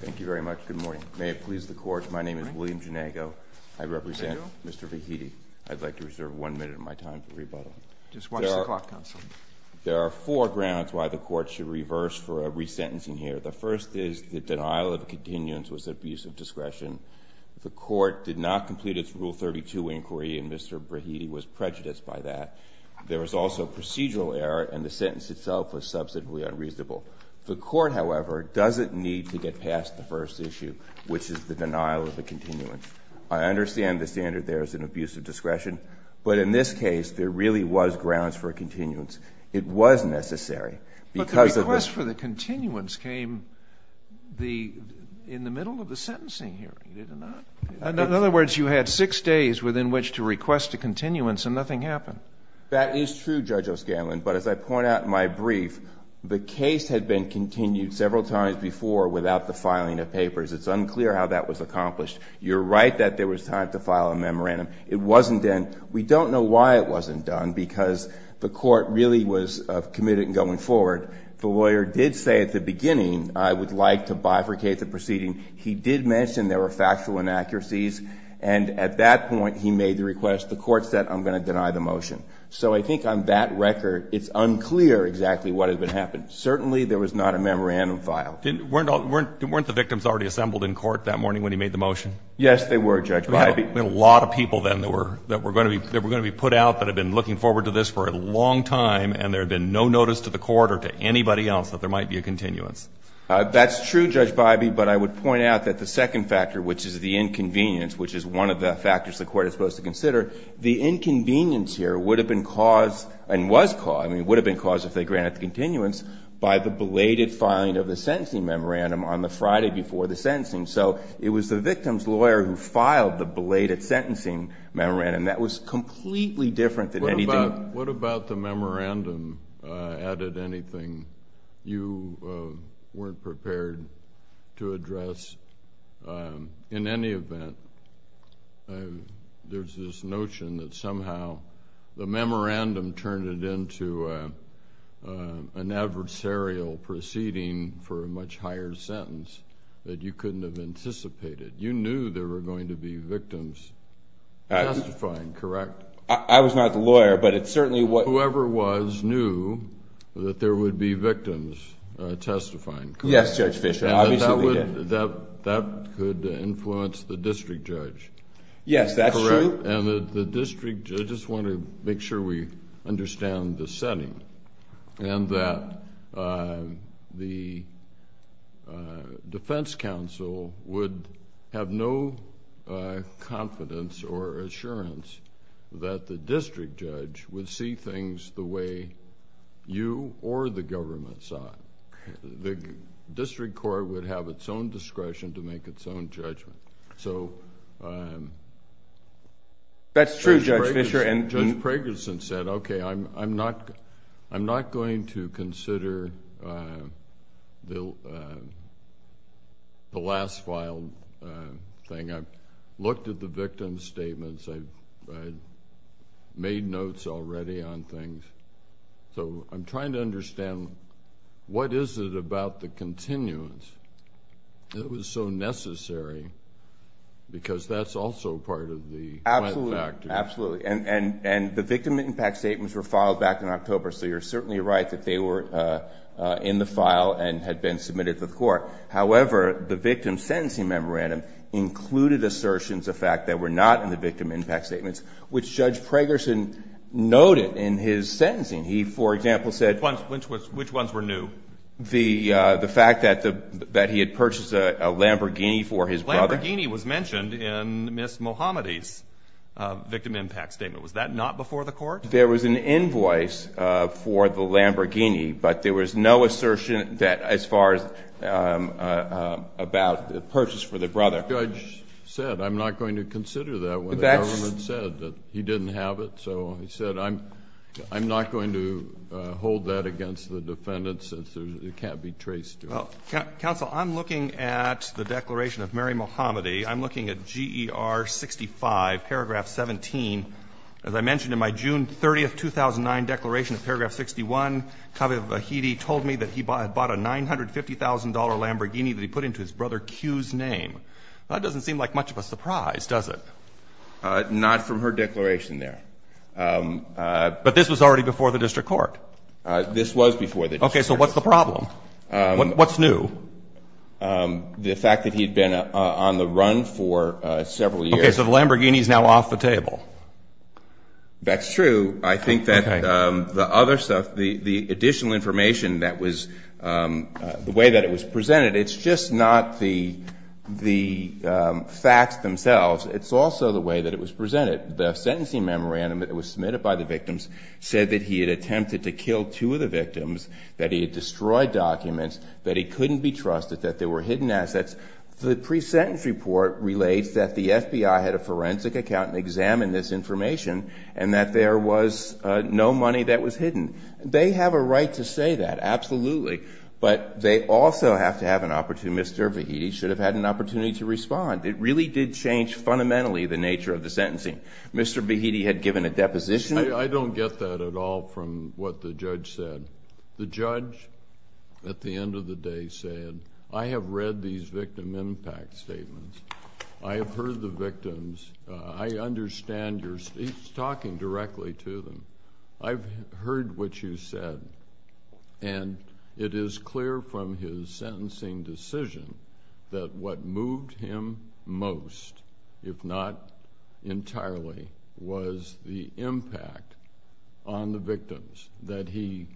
Thank you very much. Good morning. May it please the Court, my name is William Janago. I represent Mr. Vahedi. I'd like to reserve one minute of my time for rebuttal. Just watch the clock, counsel. There are four grounds why the Court should reverse for a resentencing here. The first is the denial of continuance was an abuse of discretion. The Court did not complete its Rule 32 inquiry, and Mr. Vahedi was prejudiced by that. There was also procedural error, and the sentence itself was subsequently unreasonable. The Court, however, doesn't need to get past the first issue, which is the denial of the continuance. I understand the standard there is an abuse of discretion, but in this case, there really was grounds for a continuance. It was necessary because of the But the request for the continuance came in the middle of the sentencing hearing, did it not? In other words, you had six days within which to request a continuance, and nothing happened. That is true, Judge O'Scanlan, but as I point out in my brief, the case had been continued several times before without the filing of papers. It's unclear how that was accomplished. You're right that there was time to file a memorandum. It wasn't done. We don't know why it wasn't done, because the Court really was committed in going forward. The lawyer did say at the beginning, I would like to bifurcate the proceeding. He did mention there were factual inaccuracies, and at that point, he made the request. The Court said, I'm going to deny the motion. So I think on that record, it's unclear exactly what had happened. Certainly, there was not a memorandum filed. Weren't the victims already assembled in court that morning when he made the motion? Yes, they were, Judge Bybee. There were a lot of people then that were going to be put out that had been looking forward to this for a long time, and there had been no notice to the Court or to anybody else that there might be a continuance. That's true, Judge Bybee, but I would point out that the second factor, which is the inconvenience here, would have been caused, and was caused, I mean, would have been caused if they granted the continuance, by the belated filing of the sentencing memorandum on the Friday before the sentencing. So it was the victim's lawyer who filed the belated sentencing memorandum. That was completely different than anything— What about the memorandum added anything you weren't prepared to address in any event? I mean, there's this notion that somehow the memorandum turned it into an adversarial proceeding for a much higher sentence that you couldn't have anticipated. You knew there were going to be victims testifying, correct? I was not the lawyer, but it certainly was— Whoever was knew that there would be victims testifying, correct? Yes, Judge Fischer, obviously, yes. That could influence the district judge, correct? Yes, that's true. And the district, I just want to make sure we understand the setting, and that the defense counsel would have no confidence or assurance that the district judge would see the way you or the government saw it. The district court would have its own discretion to make its own judgment. That's true, Judge Fischer. And Judge Pragerson said, okay, I'm not going to consider the last filed thing. I've the victim's statements. I've made notes already on things. So I'm trying to understand, what is it about the continuance that was so necessary? Because that's also part of the— Absolutely, absolutely. And the victim impact statements were filed back in October, so you're certainly right that they were in the file and had been submitted to the court. However, the victim's sentencing memorandum included assertions of fact that were not in the victim impact statements, which Judge Pragerson noted in his sentencing. He, for example, said— Which ones were new? The fact that he had purchased a Lamborghini for his brother. Lamborghini was mentioned in Ms. Mohammadi's victim impact statement. Was that not before the court? There was an invoice for the Lamborghini, but there was no assertion that as far as about the purchase for the brother. Judge said, I'm not going to consider that when the government said that he didn't have it. So he said, I'm not going to hold that against the defendant since it can't be traced to him. Well, counsel, I'm looking at the declaration of Mary Mohammadi. I'm looking at GER 65, paragraph 17. As I mentioned in my June 30, 2009, declaration of paragraph 61, Kaveh Vahidi told me that he had bought a $950,000 Lamborghini that he put into his brother Q's name. That doesn't seem like much of a surprise, does it? Not from her declaration there. But this was already before the district court. This was before the district court. Okay. So what's the problem? What's new? The fact that he had been on the run for several years. Okay. So the Lamborghini is now off the table. That's true. I think that the other stuff, the additional information that was, the way that it was presented, it's just not the facts themselves. It's also the way that it was presented. The sentencing memorandum that was submitted by the victims said that he had attempted to kill two of the victims, that he had destroyed documents, that he couldn't be trusted, that there were hidden assets. The pre-sentence report relates that the FBI had a forensic accountant examine this information and that there was no money that was hidden. They have a right to say that. Absolutely. But they also have to have an opportunity, Mr. Vahidi should have had an opportunity to respond. It really did change fundamentally the nature of the sentencing. Mr. Vahidi had given a deposition. I don't get that at all from what the judge said. The judge at the end of the day said, I have read these victim impact statements. I have heard the victims. I understand your—he's talking directly to them. I've heard what you said. And it is clear from his sentencing decision that what moved him most, if not entirely, was the impact on the victims, that he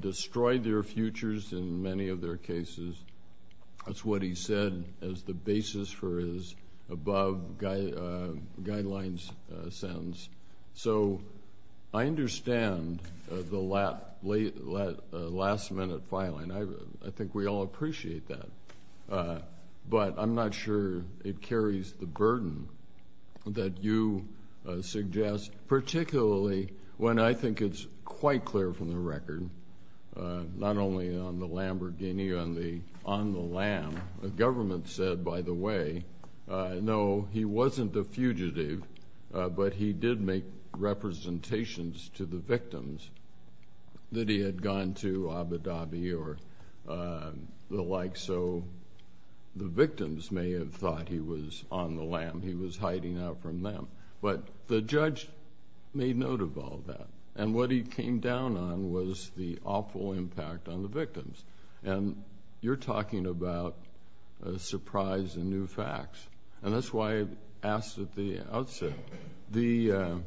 destroyed their futures in many of their cases. That's what he said as the basis for his above guidelines sentence. So I understand the last minute filing. I think we all appreciate that. But I'm not sure it carries the burden that you suggest, particularly when I think it's quite clear from the record, not only on the Lamborghini, on the lamb. The government said, by the way, no, he wasn't a fugitive, but he did make representations to the victims that he had gone to Abu Dhabi or the like. So the victims may have thought he was on the lamb, he was hiding out from them. But the judge made note of all that. And what he came down on was the awful impact on the victims. And you're talking about a surprise and new facts. And that's why I asked at the outset, the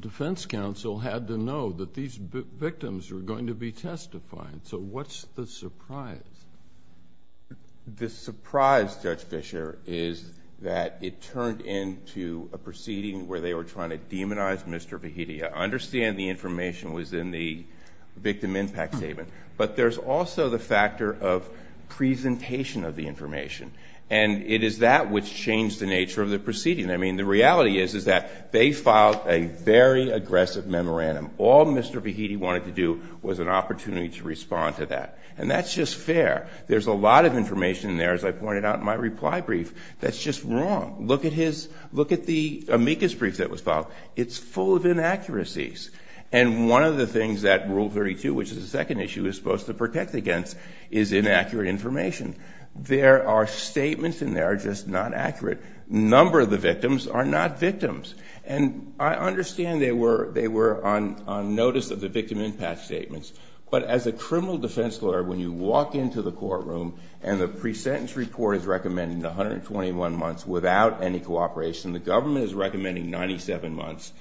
defense counsel had to know that these victims were going to be testified. So what's the surprise? The surprise, Judge Fischer, is that it turned into a proceeding where they were trying to demonize Mr. Fahidi. I understand the information was in the victim impact statement. But there's also the factor of presentation of the information. And it is that which changed the nature of the proceeding. I mean, the reality is, is that they filed a very aggressive memorandum. All Mr. Fahidi wanted to do was an opportunity to respond to that. And that's just fair. There's a lot of information there, as I pointed out in my reply brief, that's just wrong. Look at his, look at the amicus brief that was filed. It's full of inaccuracies. And one of the things that Rule 32, which is the second issue, is supposed to protect against is inaccurate information. There are statements in there that are just not accurate. Number of the victims are not victims. And I understand they were on notice of the victim impact statements. But as a criminal defense lawyer, when you walk into the courtroom and the pre-sentence report is recommending 121 months without any cooperation, the government is recommending 97 months,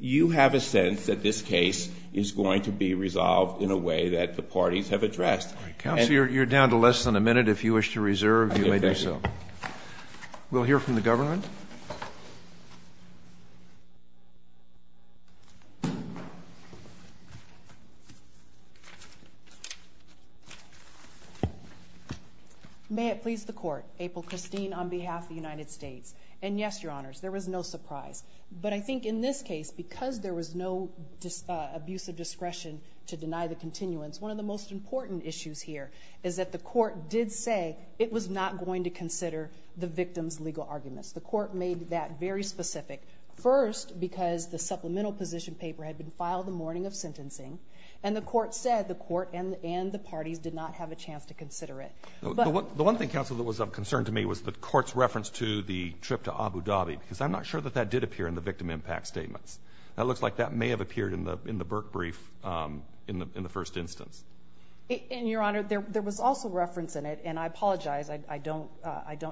you have a sense that this case is going to be resolved in a way that the parties have addressed. Counsel, you're down to less than a minute. If you wish to reserve, you may do so. We'll hear from the government. May it please the Court. April Christine on behalf of the United States. And yes, Your Honors, there was no surprise. But I think in this case, because there was no abuse of discretion to deny the continuance, one of the most important issues here is that the Court did say it was not going to consider the victim's legal arguments. The Court made that very specific. First, because the supplemental position paper had been filed the morning of sentencing. And the Court said the Court and the parties did not have a chance to consider it. The one thing, Counsel, that was of concern to me was the Court's reference to the trip to Abu Dhabi. Because I'm not sure that that did appear in the victim impact statements. It looks like that may have appeared in the Burke brief in the first instance. And, Your Honor, there was also reference in it. And I apologize. I don't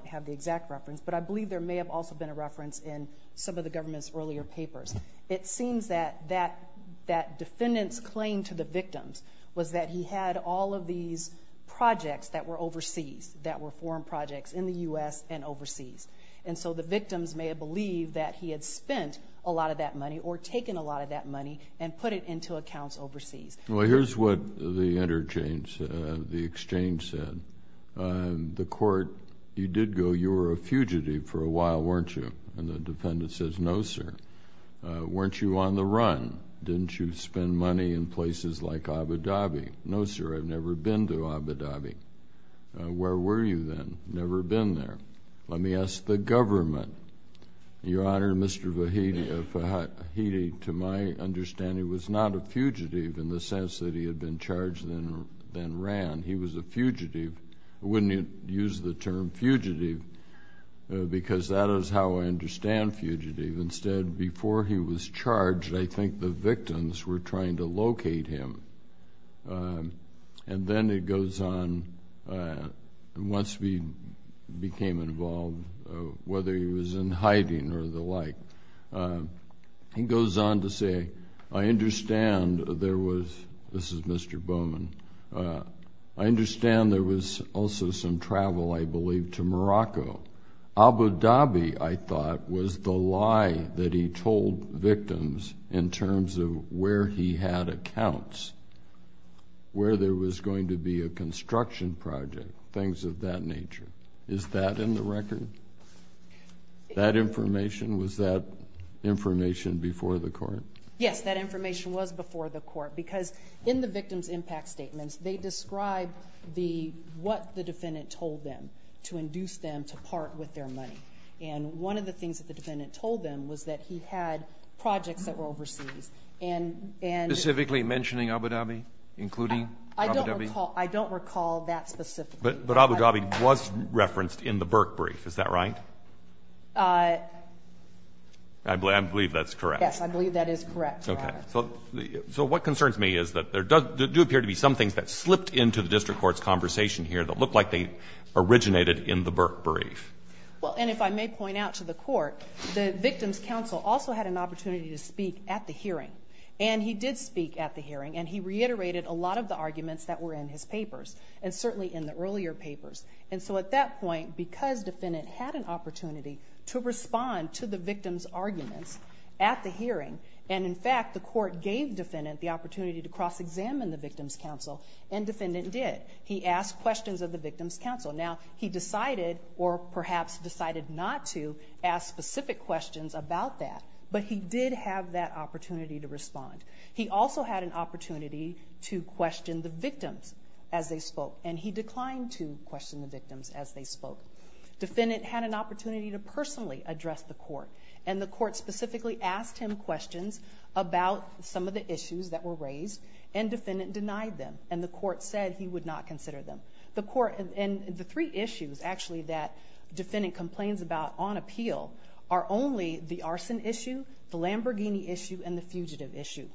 have the exact reference. But I believe there may have also been a reference in some of the government's earlier papers. It seems that that defendant's claim to the victims was that he had all of these projects that were overseas, that were foreign projects in the U.S. and overseas. And so the victims may have believed that he had spent a lot of that money or taken a lot of that money and put it into accounts overseas. Well, here's what the exchange said. The Court, you did go. You were a fugitive for a while, weren't you? And the defendant says, No, sir. Weren't you on the run? Didn't you spend money in places like Abu Dhabi? No, sir. I've never been to Abu Dhabi. Where were you then? Never been there. Let me ask the government. Your Honor, Mr. Vahidi, to my understanding, was not a fugitive in the sense that he had been charged and then ran. He was a fugitive. I wouldn't use the term fugitive because that is how I understand fugitive. Instead, before he was charged, I think the victims were trying to or the like. He goes on to say, I understand there was, this is Mr. Bowman, I understand there was also some travel, I believe, to Morocco. Abu Dhabi, I thought, was the lie that he told victims in terms of where he had accounts, where there was going to be a construction project, things of that nature. Is that in the record? That information, was that information before the court? Yes, that information was before the court because in the victim's impact statements, they describe what the defendant told them to induce them to part with their money. And one of the things that the defendant told them was that he had projects that were overseas. And specifically mentioning Abu Dhabi, including Abu Dhabi? I don't recall that specifically. But Abu Dhabi was referenced in the Burke brief, is that right? I believe that's correct. Yes, I believe that is correct, Your Honor. Okay. So what concerns me is that there do appear to be some things that slipped into the district court's conversation here that look like they originated in the Burke brief. Well, and if I may point out to the court, the victim's counsel also had an opportunity to speak at the hearing. And he did speak at the hearing, and he reiterated a lot of the arguments that were in his papers, and certainly in the earlier papers. And so at that point, because defendant had an opportunity to respond to the victim's arguments at the hearing, and in fact, the court gave defendant the opportunity to cross-examine the victim's counsel, and defendant did. He asked questions of the victim's counsel. Now, he decided, or perhaps decided not to, ask specific questions about that, but he did have that opportunity to respond. He also had an opportunity to question the victims as they spoke, and he declined to question the victims as they spoke. Defendant had an opportunity to personally address the court, and the court specifically asked him questions about some of the issues that were raised, and defendant denied them, and the court said he would not consider them. The court, and the three issues, actually, that defendant complains about on appeal are only the arson issue, the Lamborghini issue, and the fugitive issue.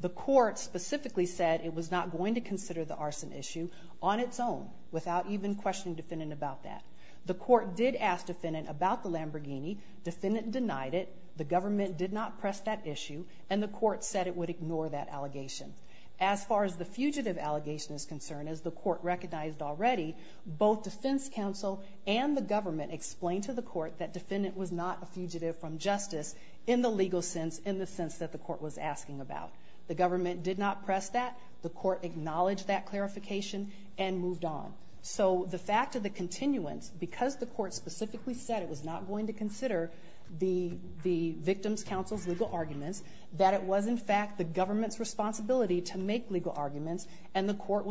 The court specifically said it was not going to consider the arson issue on its own, without even questioning defendant about that. The court did ask defendant about the Lamborghini. Defendant denied it. The government did not press that issue, and the court said it would ignore that allegation. As far as the fugitive allegation is concerned, as the court recognized already, both defense counsel and the government explained to the court that defendant was not a fugitive from justice, in the legal sense, in the sense that the court was asking about. The government did not press that. The court acknowledged that clarification, and moved on. So, the fact of the continuance, because the court specifically said it was not going to consider the victim's counsel's legal arguments, that it was, in fact, the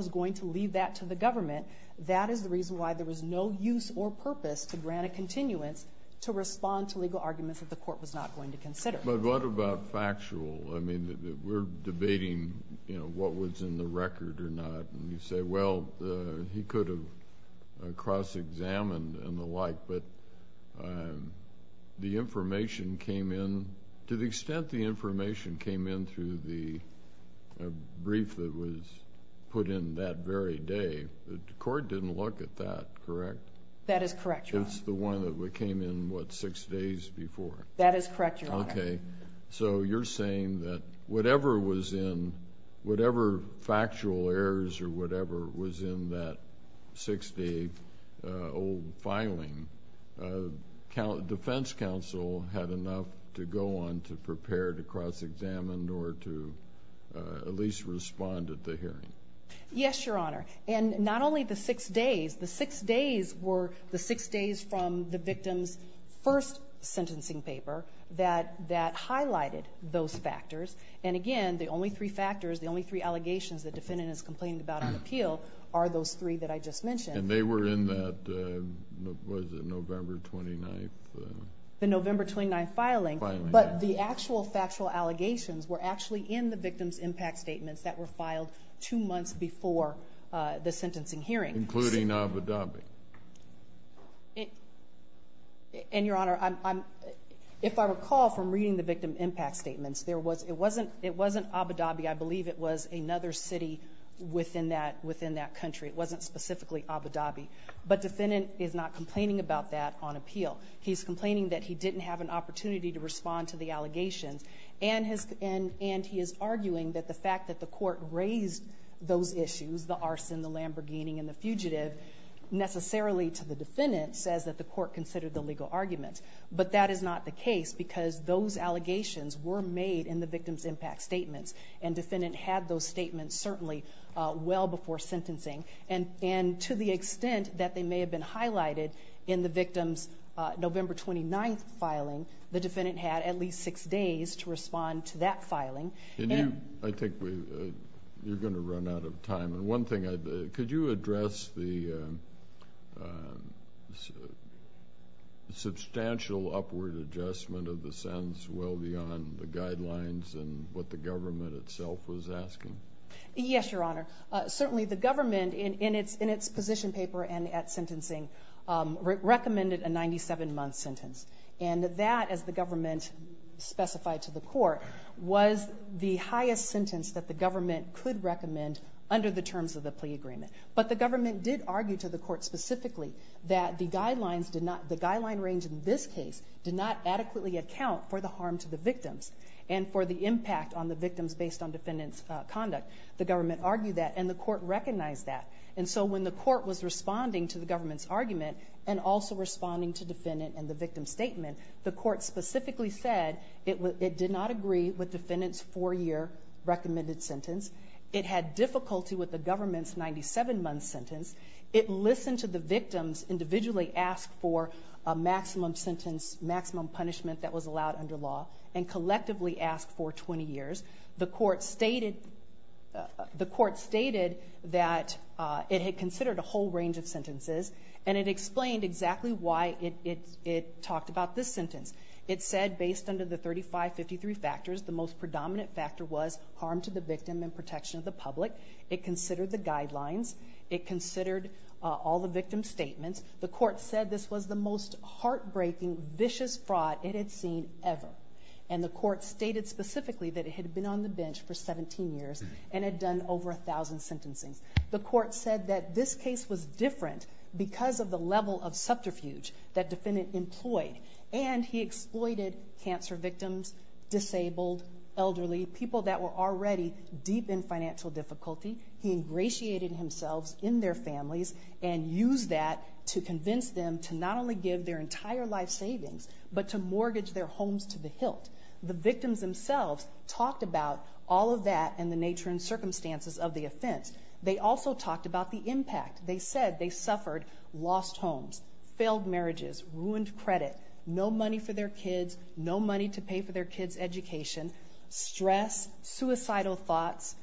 was going to leave that to the government, that is the reason why there was no use or purpose to grant a continuance to respond to legal arguments that the court was not going to consider. But what about factual? I mean, we're debating, you know, what was in the record or not, and you say, well, he could have cross-examined and the like, but the information came in, to the extent the day. The court didn't look at that, correct? That is correct, Your Honor. It's the one that came in, what, six days before? That is correct, Your Honor. Okay. So, you're saying that whatever was in, whatever factual errors or whatever was in that six-day old filing, defense counsel had enough to go on to prepare to cross-examine or to at least respond at the hearing? Yes, Your Honor. And not only the six days, the six days were the six days from the victim's first sentencing paper that highlighted those factors. And again, the only three factors, the only three allegations the defendant is complaining about on appeal are those three that I just mentioned. And they were in that, what was it, November 29th? The November 29th filing. But the actual factual allegations were actually in the victim's impact statements that were filed two months before the sentencing hearing. Including Abu Dhabi. And Your Honor, if I recall from reading the victim impact statements, there was, it wasn't Abu Dhabi, I believe it was another city within that country. It wasn't specifically Abu Dhabi. But defendant is not complaining about that on appeal. He's complaining that he didn't have an opportunity to respond to the allegations. And he is arguing that the fact that the court raised those issues, the arson, the Lamborghini, and the fugitive, necessarily to the defendant says that the court considered the legal argument. But that is not the case because those allegations were made in the victim's impact statements. And defendant had those statements certainly well before sentencing. And to the extent that they may have been highlighted in the victim's November 29th filing, the defendant had at least six days to respond to that filing. And you, I think we, you're going to run out of time. And one thing I'd, could you address the substantial upward adjustment of the sentence well beyond the guidelines and what the government itself was asking? Yes, Your Honor. Certainly the government in its position paper and at sentencing recommended a 97-month sentence. And that, as the government specified to the court, was the highest sentence that the government could recommend under the terms of the plea agreement. But the government did argue to the court specifically that the guidelines did not, the guideline range in this case, did not adequately account for the harm to the victims and for the impact on the victims based on defendant's conduct. The government argued that and the court recognized that. And so when the court was responding to the government's argument and also responding to defendant and the victim's statement, the court specifically said it did not agree with defendant's four-year recommended sentence. It had difficulty with the government's 97-month sentence. It listened to the victim's individually asked for a maximum sentence, maximum punishment that was allowed under law, and collectively asked for 20 years. The court stated, the court stated that it had considered a whole range of sentences and it explained exactly why it talked about this sentence. It said based under the 3553 factors, the most predominant factor was harm to the victim and protection of the public. It considered the guidelines. It had seen ever. And the court stated specifically that it had been on the bench for 17 years and had done over 1,000 sentencing. The court said that this case was different because of the level of subterfuge that defendant employed and he exploited cancer victims, disabled, elderly, people that were already deep in financial difficulty. He ingratiated himself in their but to mortgage their homes to the hilt. The victims themselves talked about all of that and the nature and circumstances of the offense. They also talked about the impact. They said they suffered lost homes, failed marriages, ruined credit, no money for their kids, no money to pay for their kids' education, stress, suicidal thoughts,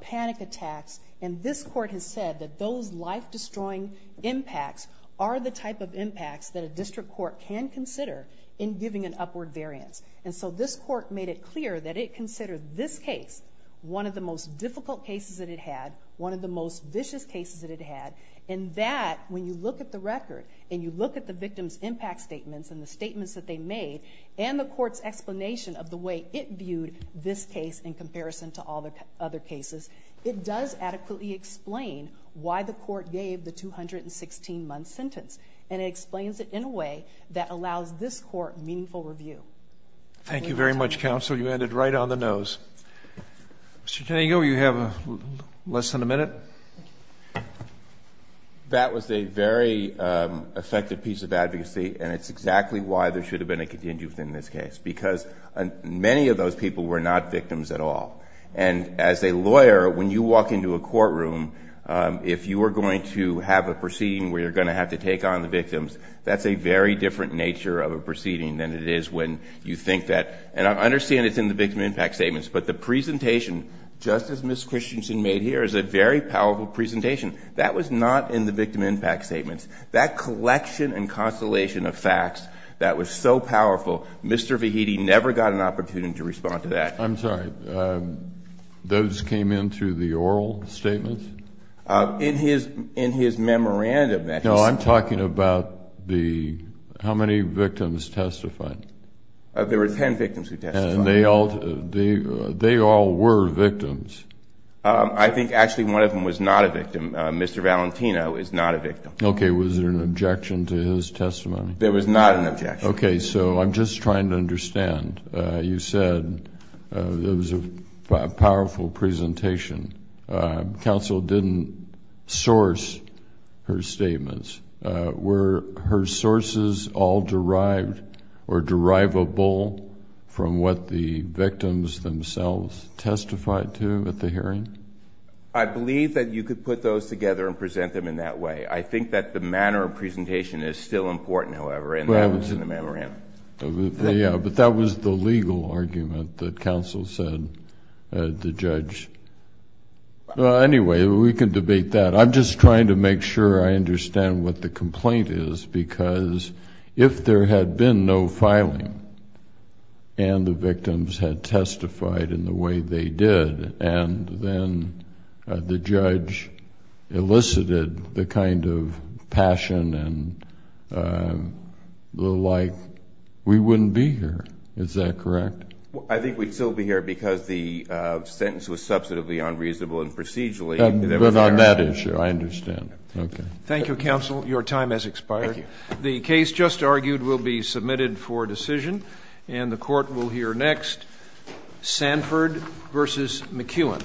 panic attacks. And this court has said that those life-destroying impacts are the type of impacts that a district court can consider in giving an upward variance. And so this court made it clear that it considered this case one of the most difficult cases that it had, one of the most vicious cases that it had, and that when you look at the record and you look at the victim's impact statements and the statements that they made and the court's explanation of the way it viewed this case in comparison to all the other cases, it does adequately explain why the court gave the 216-month sentence. And it explains it in a way that allows this court meaningful review. Thank you very much, counsel. You ended right on the nose. Mr. Tango, you have less than a minute. That was a very effective piece of advocacy and it's exactly why there should have been a contingent in this case, because many of those people were not victims at all. And as a lawyer, when you walk into a courtroom, if you are going to have a proceeding where you're going to have to take on the victims, that's a very different nature of a proceeding than it is when you think that. And I understand it's in the victim impact statements, but the presentation, just as Ms. Christensen made here, is a very powerful presentation. That was not in the victim impact statements. That collection and constellation of facts that was so powerful, Mr. Tango, I didn't have an opportunity to respond to that. I'm sorry, those came in through the oral statements? In his memorandum. No, I'm talking about the, how many victims testified? There were 10 victims who testified. And they all were victims? I think actually one of them was not a victim. Mr. Valentino is not a victim. Okay, was there an objection to his testimony? There was not an objection. Okay, so I'm just trying to understand. You said it was a powerful presentation. Counsel didn't source her statements. Were her sources all derived or derivable from what the victims themselves testified to at the hearing? I believe that you could put those together and present them in that way. I think that the manner of the memorandum. Yeah, but that was the legal argument that counsel said, the judge. Anyway, we can debate that. I'm just trying to make sure I understand what the complaint is, because if there had been no filing and the victims had testified in the way they did, and then the judge elicited the kind of passion and the like, we wouldn't be here. Is that correct? I think we'd still be here because the sentence was substantively unreasonable and procedurally. But on that issue, I understand. Okay. Thank you, counsel. Your time has expired. The case just argued will be submitted for decision and the court will hear next. Sanford versus McEwen.